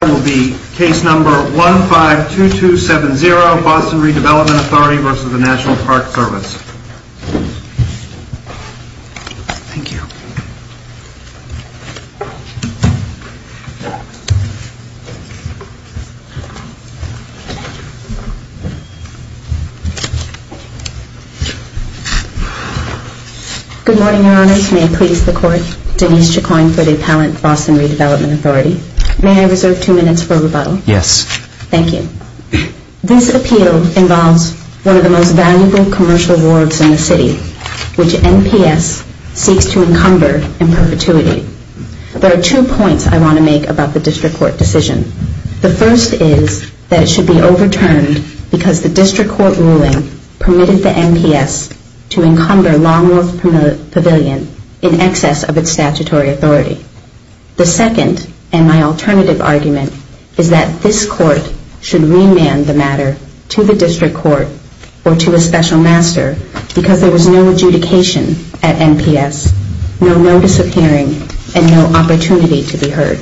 Good morning, Your Honors. May it please the Court, Denise Chacoin for the Appellant Boston This appeal involves one of the most valuable commercial wards in the city, which NPS seeks to encumber in perpetuity. There are two points I want to make about the District Court decision. The first is that it should be overturned because the District Court ruling permitted the NPS to encumber Longworth Pavilion in excess of its statutory authority. The second, and my alternative argument, is that this Court should remand the matter to the District Court or to a special master because there was no adjudication at NPS, no notice of hearing, and no opportunity to be heard.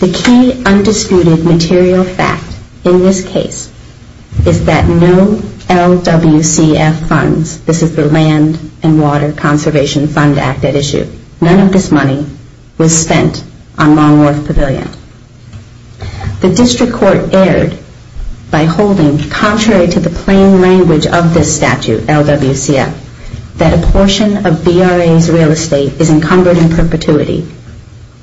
The key undisputed material fact in this case is that no LWCF funds, this is the Land and Water Conservation Fund Act at issue, none of this money was The District Court erred by holding, contrary to the plain language of this statute, LWCF, that a portion of VRA's real estate is encumbered in perpetuity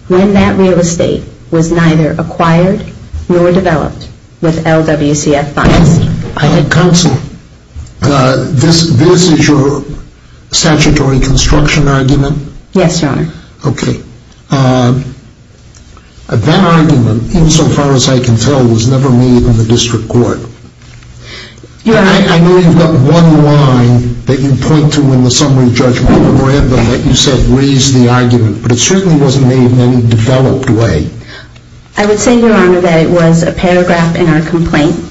when that real estate was neither acquired nor developed with LWCF funds. Counsel, this is your statutory construction argument? Yes, Your Honor. Okay. That argument, insofar as I can tell, was never made in the District Court. Your Honor. I know you've got one line that you point to in the summary judgment that you said raised the argument, but it certainly wasn't made in any developed way. I would say, Your Honor, that it was a paragraph in our complaint.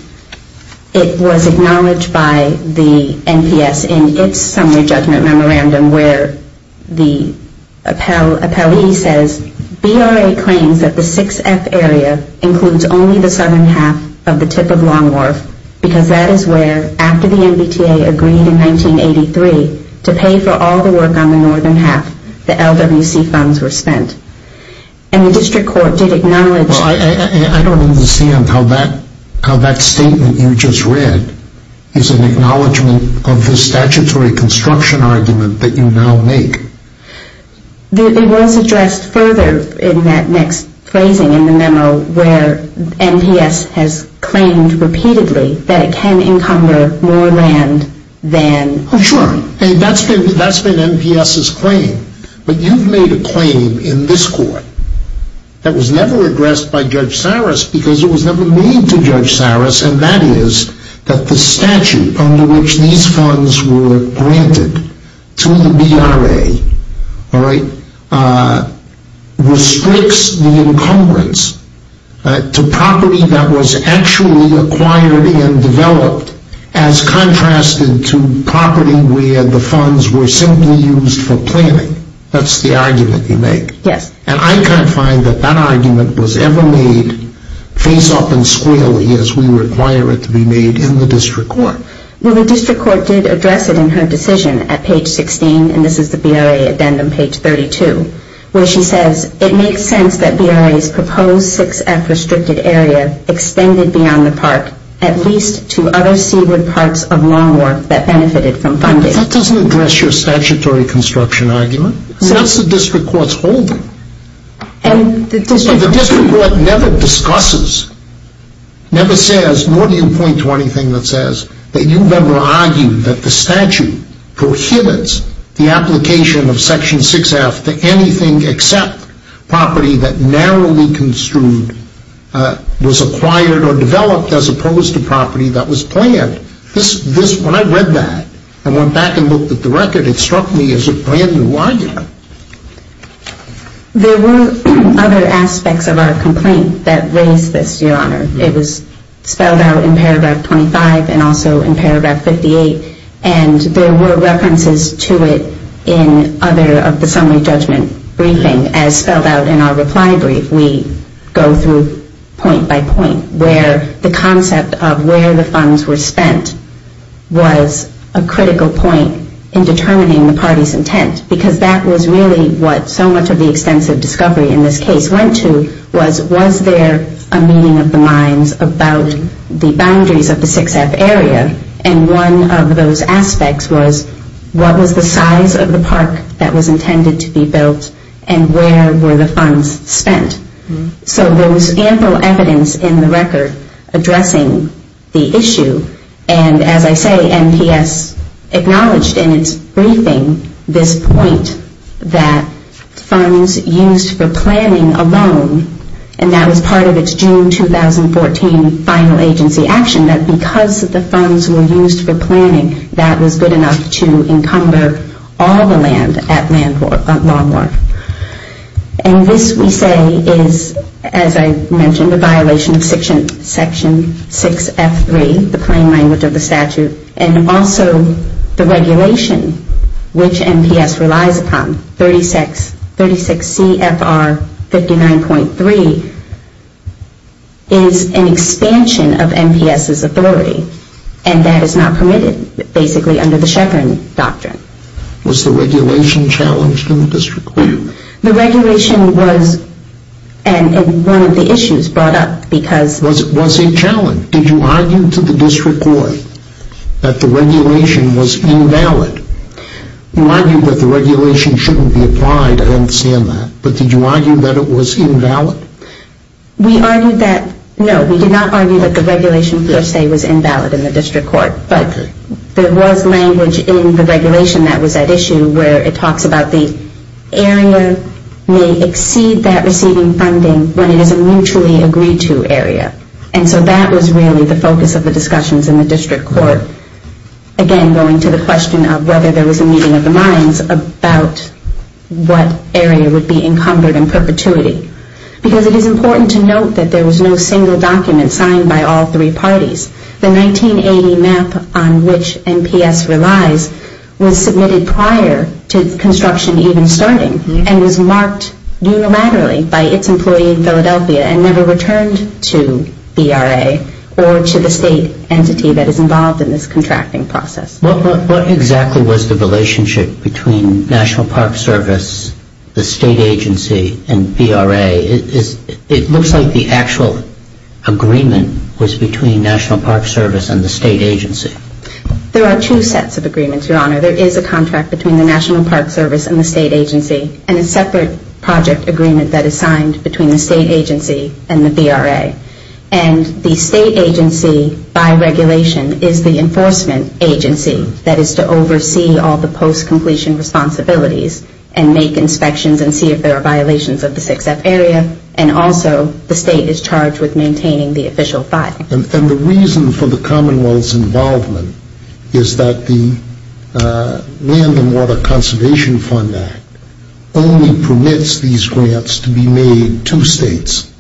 It was acknowledged by the NPS in its summary judgment memorandum where the appellee says, VRA claims that the 6F area includes only the southern half of the tip of Long Wharf because that is where, after the MBTA agreed in 1983 to pay for all the work on the northern half, the LWCF funds were spent. And the District Court did acknowledge... Well, I don't understand how that statement you just read is an acknowledgement of the statutory construction argument that you now make. It was addressed further in that next phrasing in the memo where NPS has claimed repeatedly that it can encumber more land than... Oh, sure. That's been NPS's claim. But you've made a claim in this court that was never addressed by Judge Saris because it was never made to Judge Saris, and that is that the statute under which these funds were granted to the VRA restricts the encumbrance to property that was actually acquired and developed as contrasted to property where the funds were simply used for planning. That's the argument you make. Yes. And I can't find that that argument was ever made face-up and squarely as we require it to be made in the District Court. Well, the District Court did address it in her decision at page 16, and this is the VRA extended beyond the park at least to other seaward parts of Long Wharf that benefited from funding. But that doesn't address your statutory construction argument. That's the District Court's holding. And the District Court... The District Court never discusses, never says, nor do you point to anything that says that you've ever argued that the statute prohibits the application of Section 6F to anything except property that narrowly construed was acquired or developed as opposed to property that was planned. When I read that and went back and looked at the record, it struck me as a brand-new argument. There were other aspects of our complaint that raised this, Your Honor. It was spelled out in paragraph 25 and also in paragraph 58, and there were references to it in other parts of the summary judgment briefing as spelled out in our reply brief. We go through point by point where the concept of where the funds were spent was a critical point in determining the party's intent, because that was really what so much of the extensive discovery in this case went to was, was there a meeting of the minds about the boundaries of the 6F area? And one of those aspects was, what was the size of the park that was intended to be built, and where were the funds spent? So there was ample evidence in the record addressing the issue, and as I say, NPS acknowledged in its briefing this point that funds used for planning alone, and that was part of its June 2014 final agency action, that because the funds were used for planning, that was good enough to encumber all the land at Lawn Mower. And this, we say, is, as I mentioned, a violation of Section 6F3, the plain language of the is an expansion of NPS's authority, and that is not permitted, basically, under the Sheppard Doctrine. Was the regulation challenged in the district court? The regulation was, and one of the issues brought up because Was it challenged? Did you argue to the district court that the regulation was invalid? You argued that the regulation shouldn't be applied, I understand that, but did you argue that it was invalid? We argued that, no, we did not argue that the regulation, per se, was invalid in the district court, but there was language in the regulation that was at issue where it talks about the area may exceed that receiving funding when it is a mutually agreed to area. And so that was really the focus of the discussions in the district court, again, going to the question of whether there was a meeting of the minds about what area would be encumbered in perpetuity. Because it is important to note that there was no single document signed by all three parties. The 1980 map on which NPS relies was submitted prior to construction even starting and was marked unilaterally by its employee in Philadelphia and never returned to BRA or to the state entity that is involved in this contracting process. What exactly was the relationship between National Park Service, the state agency, and BRA? It looks like the actual agreement was between National Park Service and the state agency. There are two sets of agreements, Your Honor. There is a contract between the National Park Service and the state agency and a separate project agreement that is signed between the and the BRA. And the state agency, by regulation, is the enforcement agency that is to oversee all the post-completion responsibilities and make inspections and see if there are violations of the 6F area. And also the state is charged with maintaining the official 5. And the reason for the Commonwealth's involvement is that the Land and Water Conservation Fund Act only permits these grants to be made to states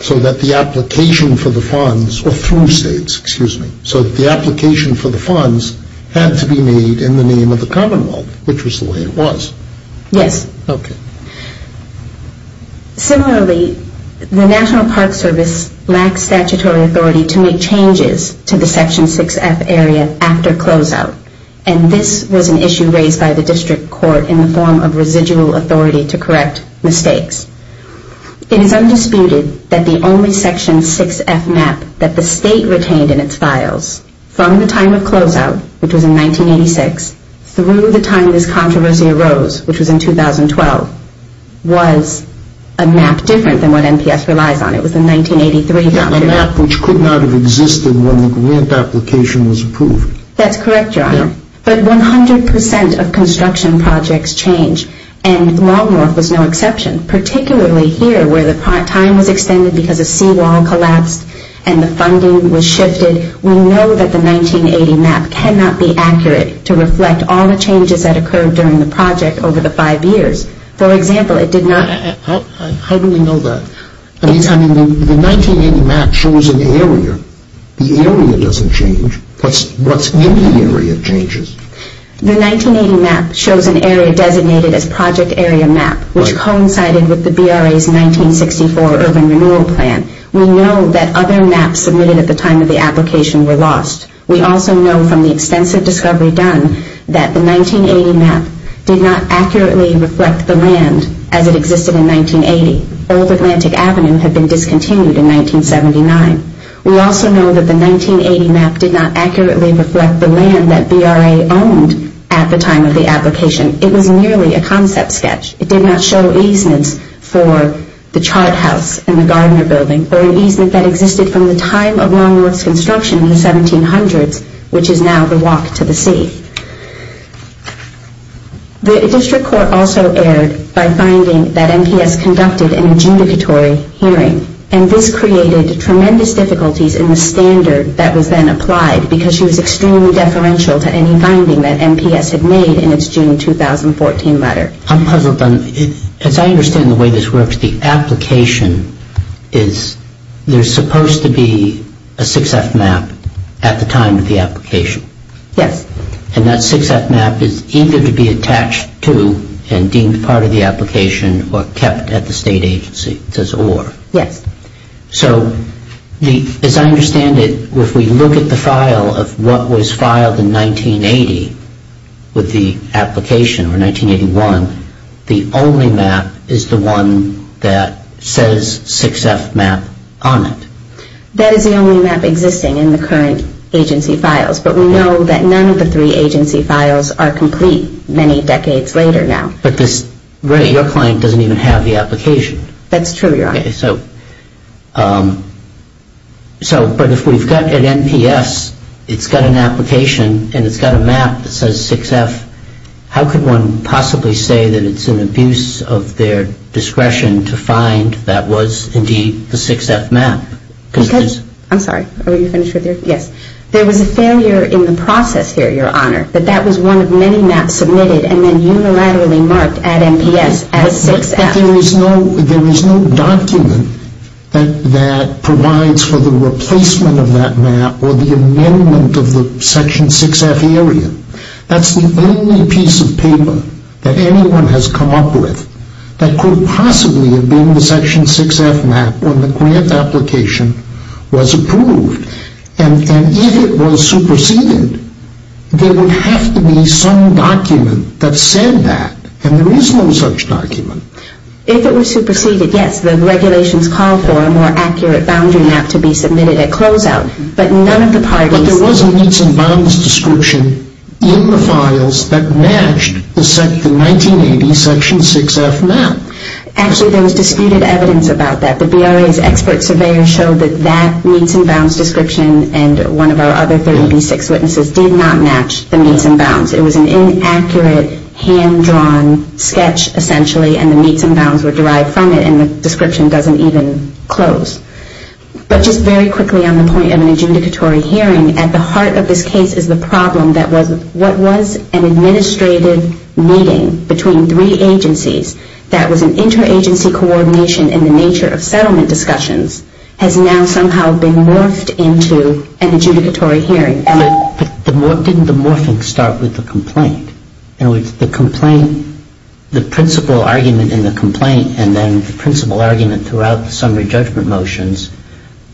so that the application for the funds, or through states, excuse me, so that the application for the funds had to be made in the name of the Commonwealth, which was the way it was. Yes. Okay. Similarly, the National Park Service lacks statutory authority to make changes to the residual authority to correct mistakes. It is undisputed that the only Section 6F map that the state retained in its files from the time of closeout, which was in 1986, through the time this controversy arose, which was in 2012, was a map different than what NPS relies on. It was the 1983 map. A map which could not have existed when the grant application was approved. That's correct, Your Honor. Yeah. But 100 percent of construction projects change, and Long North was no exception. Particularly here, where the time was extended because a seawall collapsed and the funding was shifted, we know that the 1980 map cannot be accurate to reflect all the changes that occurred during the project over the five years. For example, it did not How do we know that? I mean, the 1980 map shows an area. The area doesn't change. What's the area that changes? The 1980 map shows an area designated as Project Area Map, which coincided with the BRA's 1964 urban renewal plan. We know that other maps submitted at the time of the application were lost. We also know from the extensive discovery done that the 1980 map did not accurately reflect the land as it existed in 1980. Old Atlantic Avenue had been discontinued in 1979. We also know that the 1980 map did not accurately reflect the land that BRA owned at the time of the application. It was merely a concept sketch. It did not show easements for the charred house and the Gardner building, or an easement that existed from the time of Long North's construction in the 1700s, which is now the walk to the sea. The district court also erred by finding that NPS conducted an adjudicatory hearing, and this created tremendous difficulties in the standard that was then applied because she was extremely deferential to any finding that NPS had made in its June 2014 letter. I'm puzzled on, as I understand the way this works, the application is, there's supposed to be a 6F map at the time of the application. Yes. And that 6F map is either to be attached to and deemed part of the application or kept at the state agency. It says or. Yes. So, as I understand it, if we look at the file of what was filed in 1980 with the application or 1981, the only map is the one that says 6F map on it. That is the only map existing in the current agency files, but we know that none of the three agency files are complete many decades later now. But this, your client doesn't even have the application. That's true, your Honor. So, but if we've got an NPS, it's got an application, and it's got a map that says 6F, how could one possibly say that it's an abuse of their discretion to find that was indeed the 6F map? Because, I'm sorry, are you finished with your, yes. There was a failure in the process here, your Honor, that that was one of many maps submitted and then unilaterally marked at NPS as 6F. There is no document that provides for the replacement of that map or the amendment of the section 6F area. That's the only piece of paper that anyone has come up with that could possibly have been the section 6F map when the grant application was approved. And if it was superseded, there would have to be some document that said that, and there is no such document. If it was superseded, yes, the regulations called for a more accurate boundary map to be submitted at closeout, but none of the parties... But there was a meets and bounds description in the files that matched the 1980 section 6F map. Actually, there was disputed evidence about that. The BRA's expert surveyor showed that that meets and bounds description and one of our other 30B6 witnesses did not match the meets and bounds. It was an inaccurate hand-drawn sketch, essentially, and the meets and bounds were derived from it and the description doesn't even close. But just very quickly on the point of an adjudicatory hearing, at the heart of this case is the problem that was what was an administrative meeting between three agencies that was an interagency coordination in the nature of settlement discussions has now somehow been morphed into an adjudicatory hearing. But didn't the morphing start with the complaint? In other words, the complaint, the principal argument in the complaint and then the principal argument throughout the summary judgment motions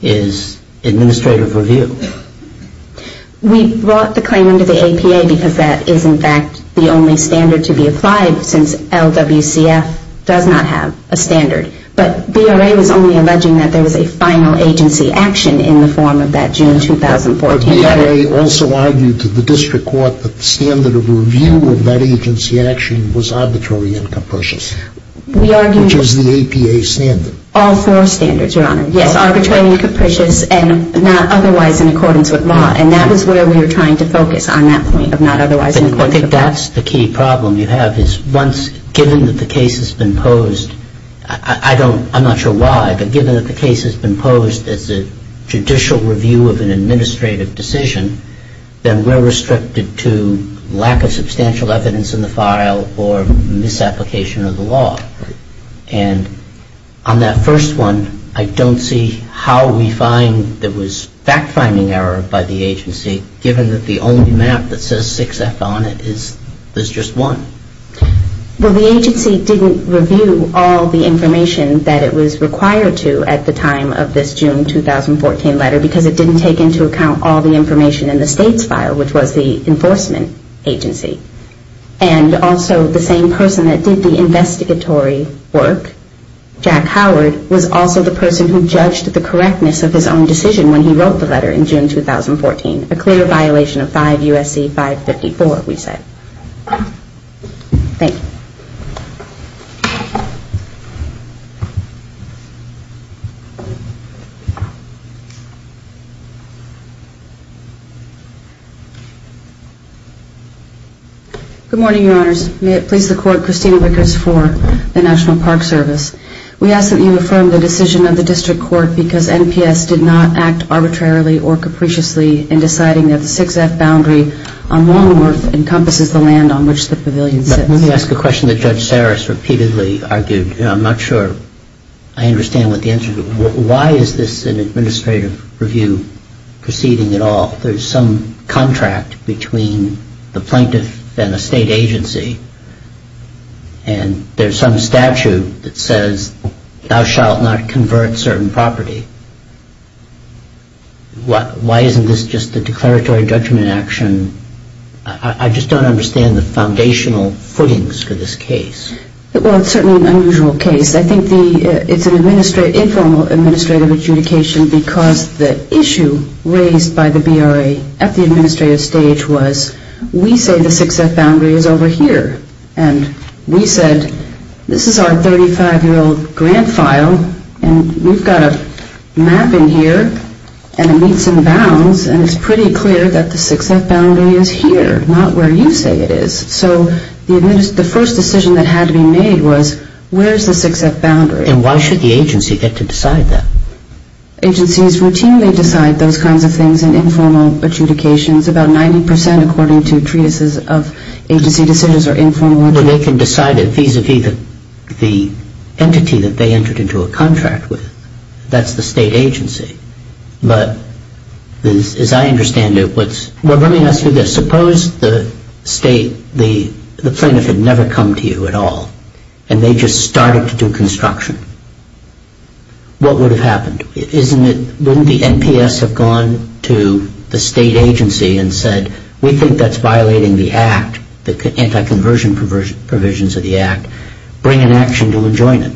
is administrative review. We brought the claim under the APA because that is in fact the only standard to be applied since LWCF does not have a standard. But BRA was only alleging that there was a final agency action in the form of that June 2014. But BRA also argued to the district court that the standard of review of that agency action was arbitrary and capricious, which is the APA standard. All four standards, Your Honor. Yes, arbitrary and capricious and not otherwise in accordance with law, and that was where we were trying to focus on that point of not otherwise in accordance with law. I think that's the key problem you have is once, given that the case has been posed, I don't, I'm not sure why, but given that the case has been posed as a judicial review of an administrative decision, then we're restricted to lack of substantial evidence in the file or misapplication of the law. And on that first one, I don't see how we find there was fact-finding error by the agency given that the only map that says 6F on it is just one. Well, the agency didn't review all the information that it was required to at the time of this June 2014 letter because it didn't take into account all the information in the state's file, which was the enforcement agency. And also the same person that did the investigatory work, Jack Howard, was also the person who judged the correctness of his own decision when he wrote the letter in June 2014, a clear violation of 5 U.S.C. 554, we said. Thank you. Good morning, Your Honors. May it please the Court, Christina Rickerts for the National Park Service. We ask that you affirm the decision of the District Court because NPS did not act arbitrarily or capriciously in deciding that the 6F boundary on Longworth encompasses the land on which the pavilion sits. Let me ask a question that Judge Saris repeatedly argued. I'm not sure I understand what the answer is. Why is this an administrative review proceeding at all? There's some contract between the plaintiff and the state agency, and there's some statute that says thou shalt not convert certain property. Why isn't this just a declaratory judgment action? I just don't understand the foundational footings for this case. Well, it's certainly an unusual case. I think it's an informal administrative adjudication because the issue raised by the BRA at the administrative stage was we say the 6F boundary is over here, and we said this is our 35-year-old grant file, and we've got a map in here, and it meets in bounds, and it's pretty clear that the 6F boundary is here, not where you say it is. So the first decision that had to be made was where's the 6F boundary? And why should the agency get to decide that? Agencies routinely decide those kinds of things in informal adjudications. About 90 percent, according to treatises of agency decisions, are informal. Well, they can decide it vis-à-vis the entity that they entered into a contract with. That's the state agency. But as I understand it, what's... Well, let me ask you this. Suppose the state, the plaintiff had never come to you at all, and they just started to do construction. What would have happened? Wouldn't the NPS have gone to the state agency and said, we think that's violating the act, the anti-conversion provisions of the act. Bring an action to enjoin it.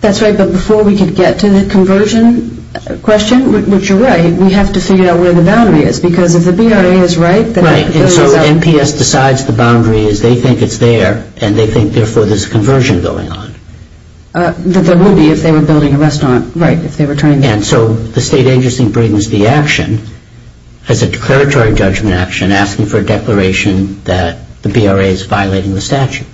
That's right. But before we could get to the conversion question, which you're right, we have to figure out where the boundary is, because if the BRA is right... Right. And so NPS decides the boundary as they think it's there, and they think therefore there's a conversion going on. That there would be if they were building a restaurant. Right. If they were trying to... And so the state agency brings the action as a declaratory judgment action asking for a declaration that the BRA is violating the statute.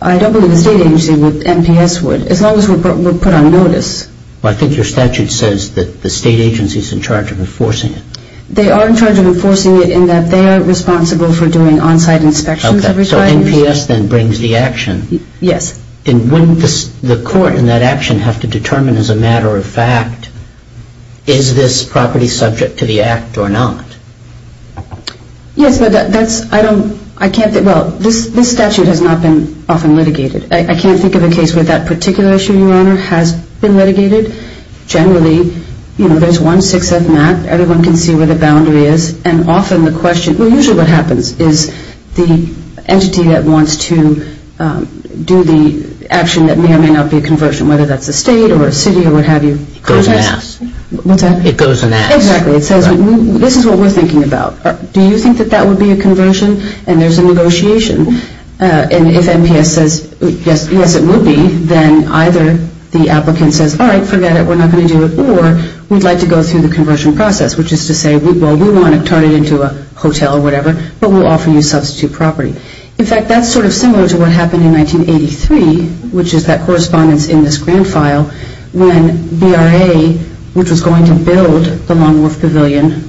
I don't believe the state agency would, NPS would, as long as we're put on notice. Well, I think your statute says that the state agency is in charge of enforcing it. They are in charge of enforcing it in that they are responsible for doing on-site inspections of retirees. Okay, so NPS then brings the action. Yes. And wouldn't the court in that action have to determine as a matter of fact, is this property subject to the act or not? Yes, but that's... Well, this statute has not been often litigated. I can't think of a case where that particular issue, Your Honor, has been litigated. Generally, you know, there's one 6th map. Everyone can see where the boundary is, and often the question... Well, usually what happens is the entity that wants to do the action that may or may not be a conversion, whether that's a state or a city or what have you... Goes and asks. What's that? It goes and asks. Exactly. It says this is what we're thinking about. Do you think that that would be a conversion? And there's a negotiation. And if NPS says, yes, it will be, then either the applicant says, all right, forget it, we're not going to do it, or we'd like to go through the conversion process, which is to say, well, we want to turn it into a hotel or whatever, but we'll offer you substitute property. In fact, that's sort of similar to what happened in 1983, which is that correspondence in this grant file, when BRA, which was going to build the Long Wharf Pavilion,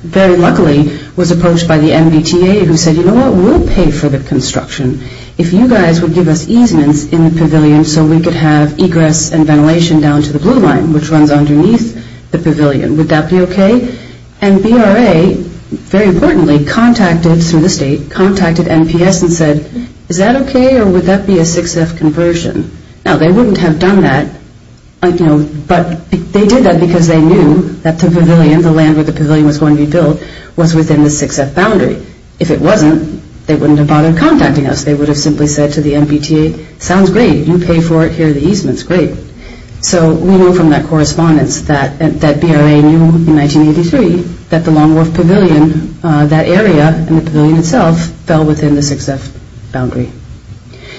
very luckily was approached by the MBTA, who said, you know what, we'll pay for the construction if you guys would give us easements in the pavilion so we could have egress and ventilation down to the blue line, which runs underneath the pavilion. Would that be okay? And BRA, very importantly, contacted, through the state, contacted NPS and said, is that okay, or would that be a 6th conversion? Now, they wouldn't have done that, you know, but they did that because they knew that the pavilion, the land where the pavilion was going to be built, was within the 6th boundary. If it wasn't, they wouldn't have bothered contacting us. They would have simply said to the MBTA, sounds great, you pay for it here, the easements, great. So we know from that correspondence that BRA knew in 1983 that the Long Wharf Pavilion, that area and the pavilion itself, fell within the 6th boundary.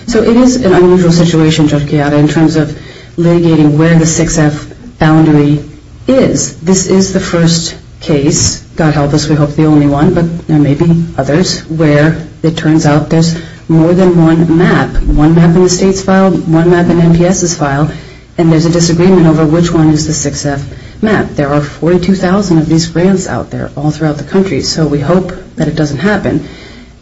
So it is an unusual situation, Judge Chiara, in terms of litigating where the 6th boundary is. This is the first case, God help us, we hope the only one, but there may be others, where it turns out there's more than one map. One map in the state's file, one map in NPS's file, and there's a disagreement over which one is the 6th map. There are 42,000 of these grants out there all throughout the country, so we hope that it doesn't happen.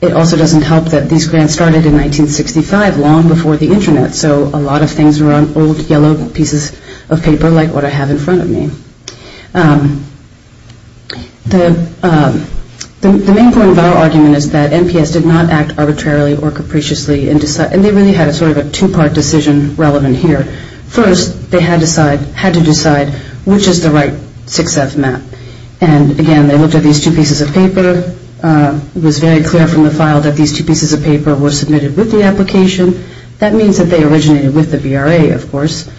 It also doesn't help that these grants started in 1965, long before the internet, so a lot of things are on old, yellow pieces of paper, like what I have in front of me. The main point of our argument is that NPS did not act arbitrarily or capriciously, and they really had sort of a two-part decision relevant here. First, they had to decide which is the right 6th map. And again, they looked at these two pieces of paper, it was very clear from the file that these two pieces of paper were submitted with the application, that means that they originated with the VRA, of course,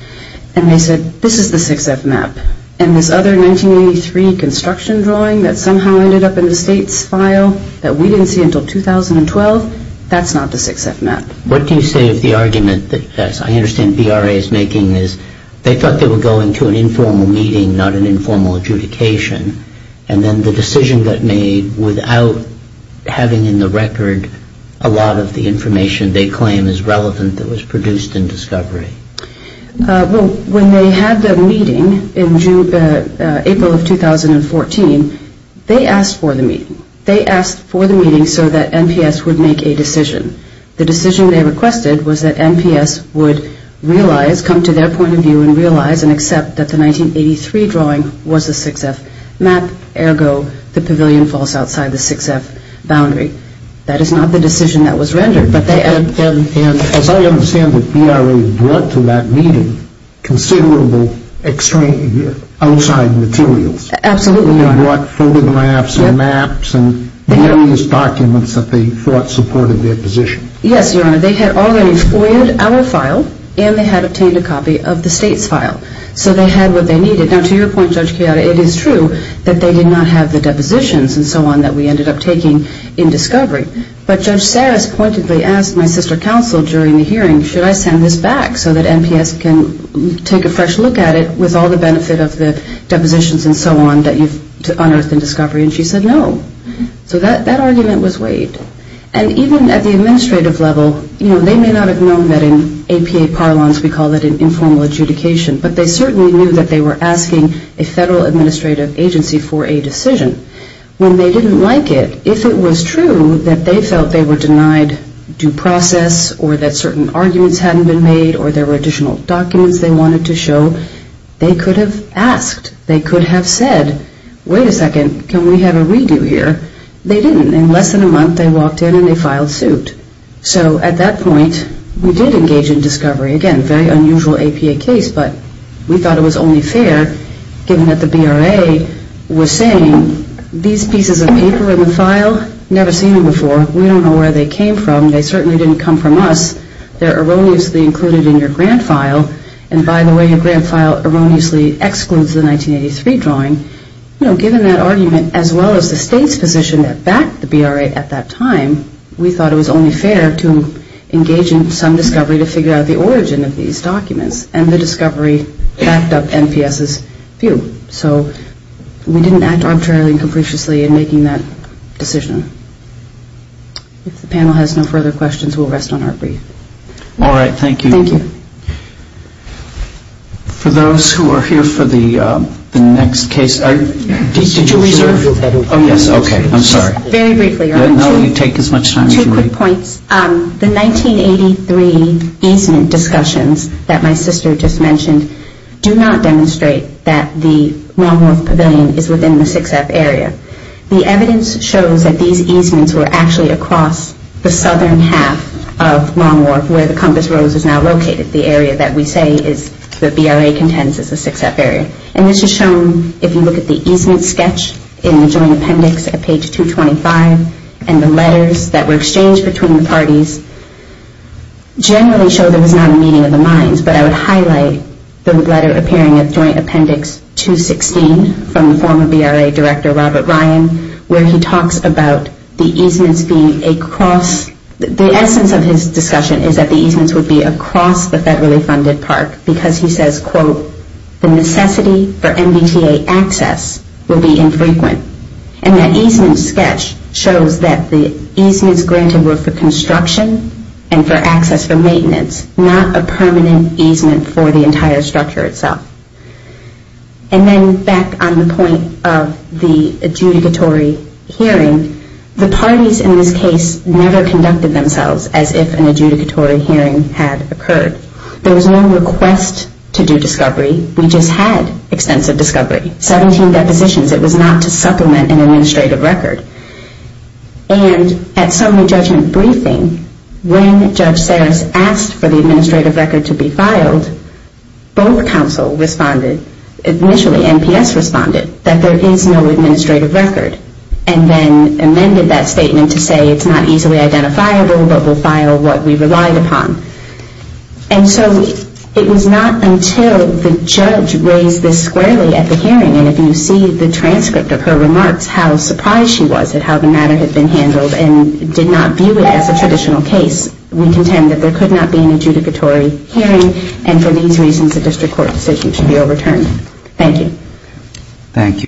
and they said, this is the 6th map. And this other 1983 construction drawing that somehow ended up in the state's file, that we didn't see until 2012, that's not the 6th map. What do you say of the argument that, as I understand VRA is making, is they thought they were going to an informal meeting, not an informal adjudication, and then the decision got made without having in the record a lot of the information they claim is relevant that was produced in discovery? Well, when they had the meeting in April of 2014, they asked for the meeting. They asked for the meeting so that NPS would make a decision. The decision they requested was that NPS would realize, come to their point of view, and realize and accept that the 1983 drawing was the 6th map, ergo the pavilion falls outside the 6th boundary. That is not the decision that was rendered. And as I understand it, VRA brought to that meeting considerable outside materials. Absolutely, Your Honor. They brought photographs and maps and various documents that they thought supported their position. Yes, Your Honor. They had already foiled our file, and they had obtained a copy of the State's file. So they had what they needed. Now, to your point, Judge Chiara, it is true that they did not have the depositions and so on that we ended up taking in discovery. But Judge Sarris pointedly asked my sister counsel during the hearing, should I send this back so that NPS can take a fresh look at it with all the benefit of the depositions and so on that you've unearthed in discovery? And she said no. So that argument was waived. And even at the administrative level, they may not have known that in APA parlance we call it an informal adjudication, but they certainly knew that they were asking a federal administrative agency for a decision. When they didn't like it, if it was true that they felt they were denied due process or that certain arguments hadn't been made or there were additional documents they wanted to show, they could have asked, they could have said, wait a second, can we have a redo here? They didn't. And in less than a month, they walked in and they filed suit. So at that point, we did engage in discovery. Again, very unusual APA case, but we thought it was only fair given that the BRA was saying, these pieces of paper in the file, never seen them before. We don't know where they came from. They certainly didn't come from us. They're erroneously included in your grant file. And by the way, your grant file erroneously excludes the 1983 drawing. Given that argument, as well as the state's position that backed the BRA at that time, we thought it was only fair to engage in some discovery to figure out the origin of these documents. And the discovery backed up NPS's view. So we didn't act arbitrarily and capriciously in making that decision. If the panel has no further questions, we'll rest on our brief. All right, thank you. Thank you. For those who are here for the next case, did you reserve? Oh, yes, okay. I'm sorry. Very briefly. No, you take as much time as you need. Two quick points. The 1983 easement discussions that my sister just mentioned do not demonstrate that the Long Wharf Pavilion is within the 6F area. The evidence shows that these easements were actually across the southern half of Long Wharf, where the Compass Rose is now located, the area that we say the BRA contends is the 6F area. And this is shown, if you look at the easement sketch in the joint appendix at page 225, and the letters that were exchanged between the parties, generally show there was not a meeting of the minds. But I would highlight the letter appearing at joint appendix 216 from the former BRA director, Robert Ryan, where he talks about the easements being across. The essence of his discussion is that the easements would be across the federally funded park, because he says, quote, the necessity for MBTA access will be infrequent. And that easement sketch shows that the easements granted were for construction and for access for maintenance, not a permanent easement for the entire structure itself. And then back on the point of the adjudicatory hearing, the parties in this case never conducted themselves as if an adjudicatory hearing had occurred. There was no request to do discovery. We just had extensive discovery, 17 depositions. It was not to supplement an administrative record. And at summary judgment briefing, when Judge Sarris asked for the administrative record to be filed, both counsel responded, initially NPS responded, that there is no administrative record, and then amended that statement to say it's not easily identifiable, but we'll file what we relied upon. And so it was not until the judge raised this squarely at the hearing, and if you see the transcript of her remarks, how surprised she was at how the matter had been handled and did not view it as a traditional case. We contend that there could not be an adjudicatory hearing, and for these reasons the district court decision should be overturned. Thank you. Thank you.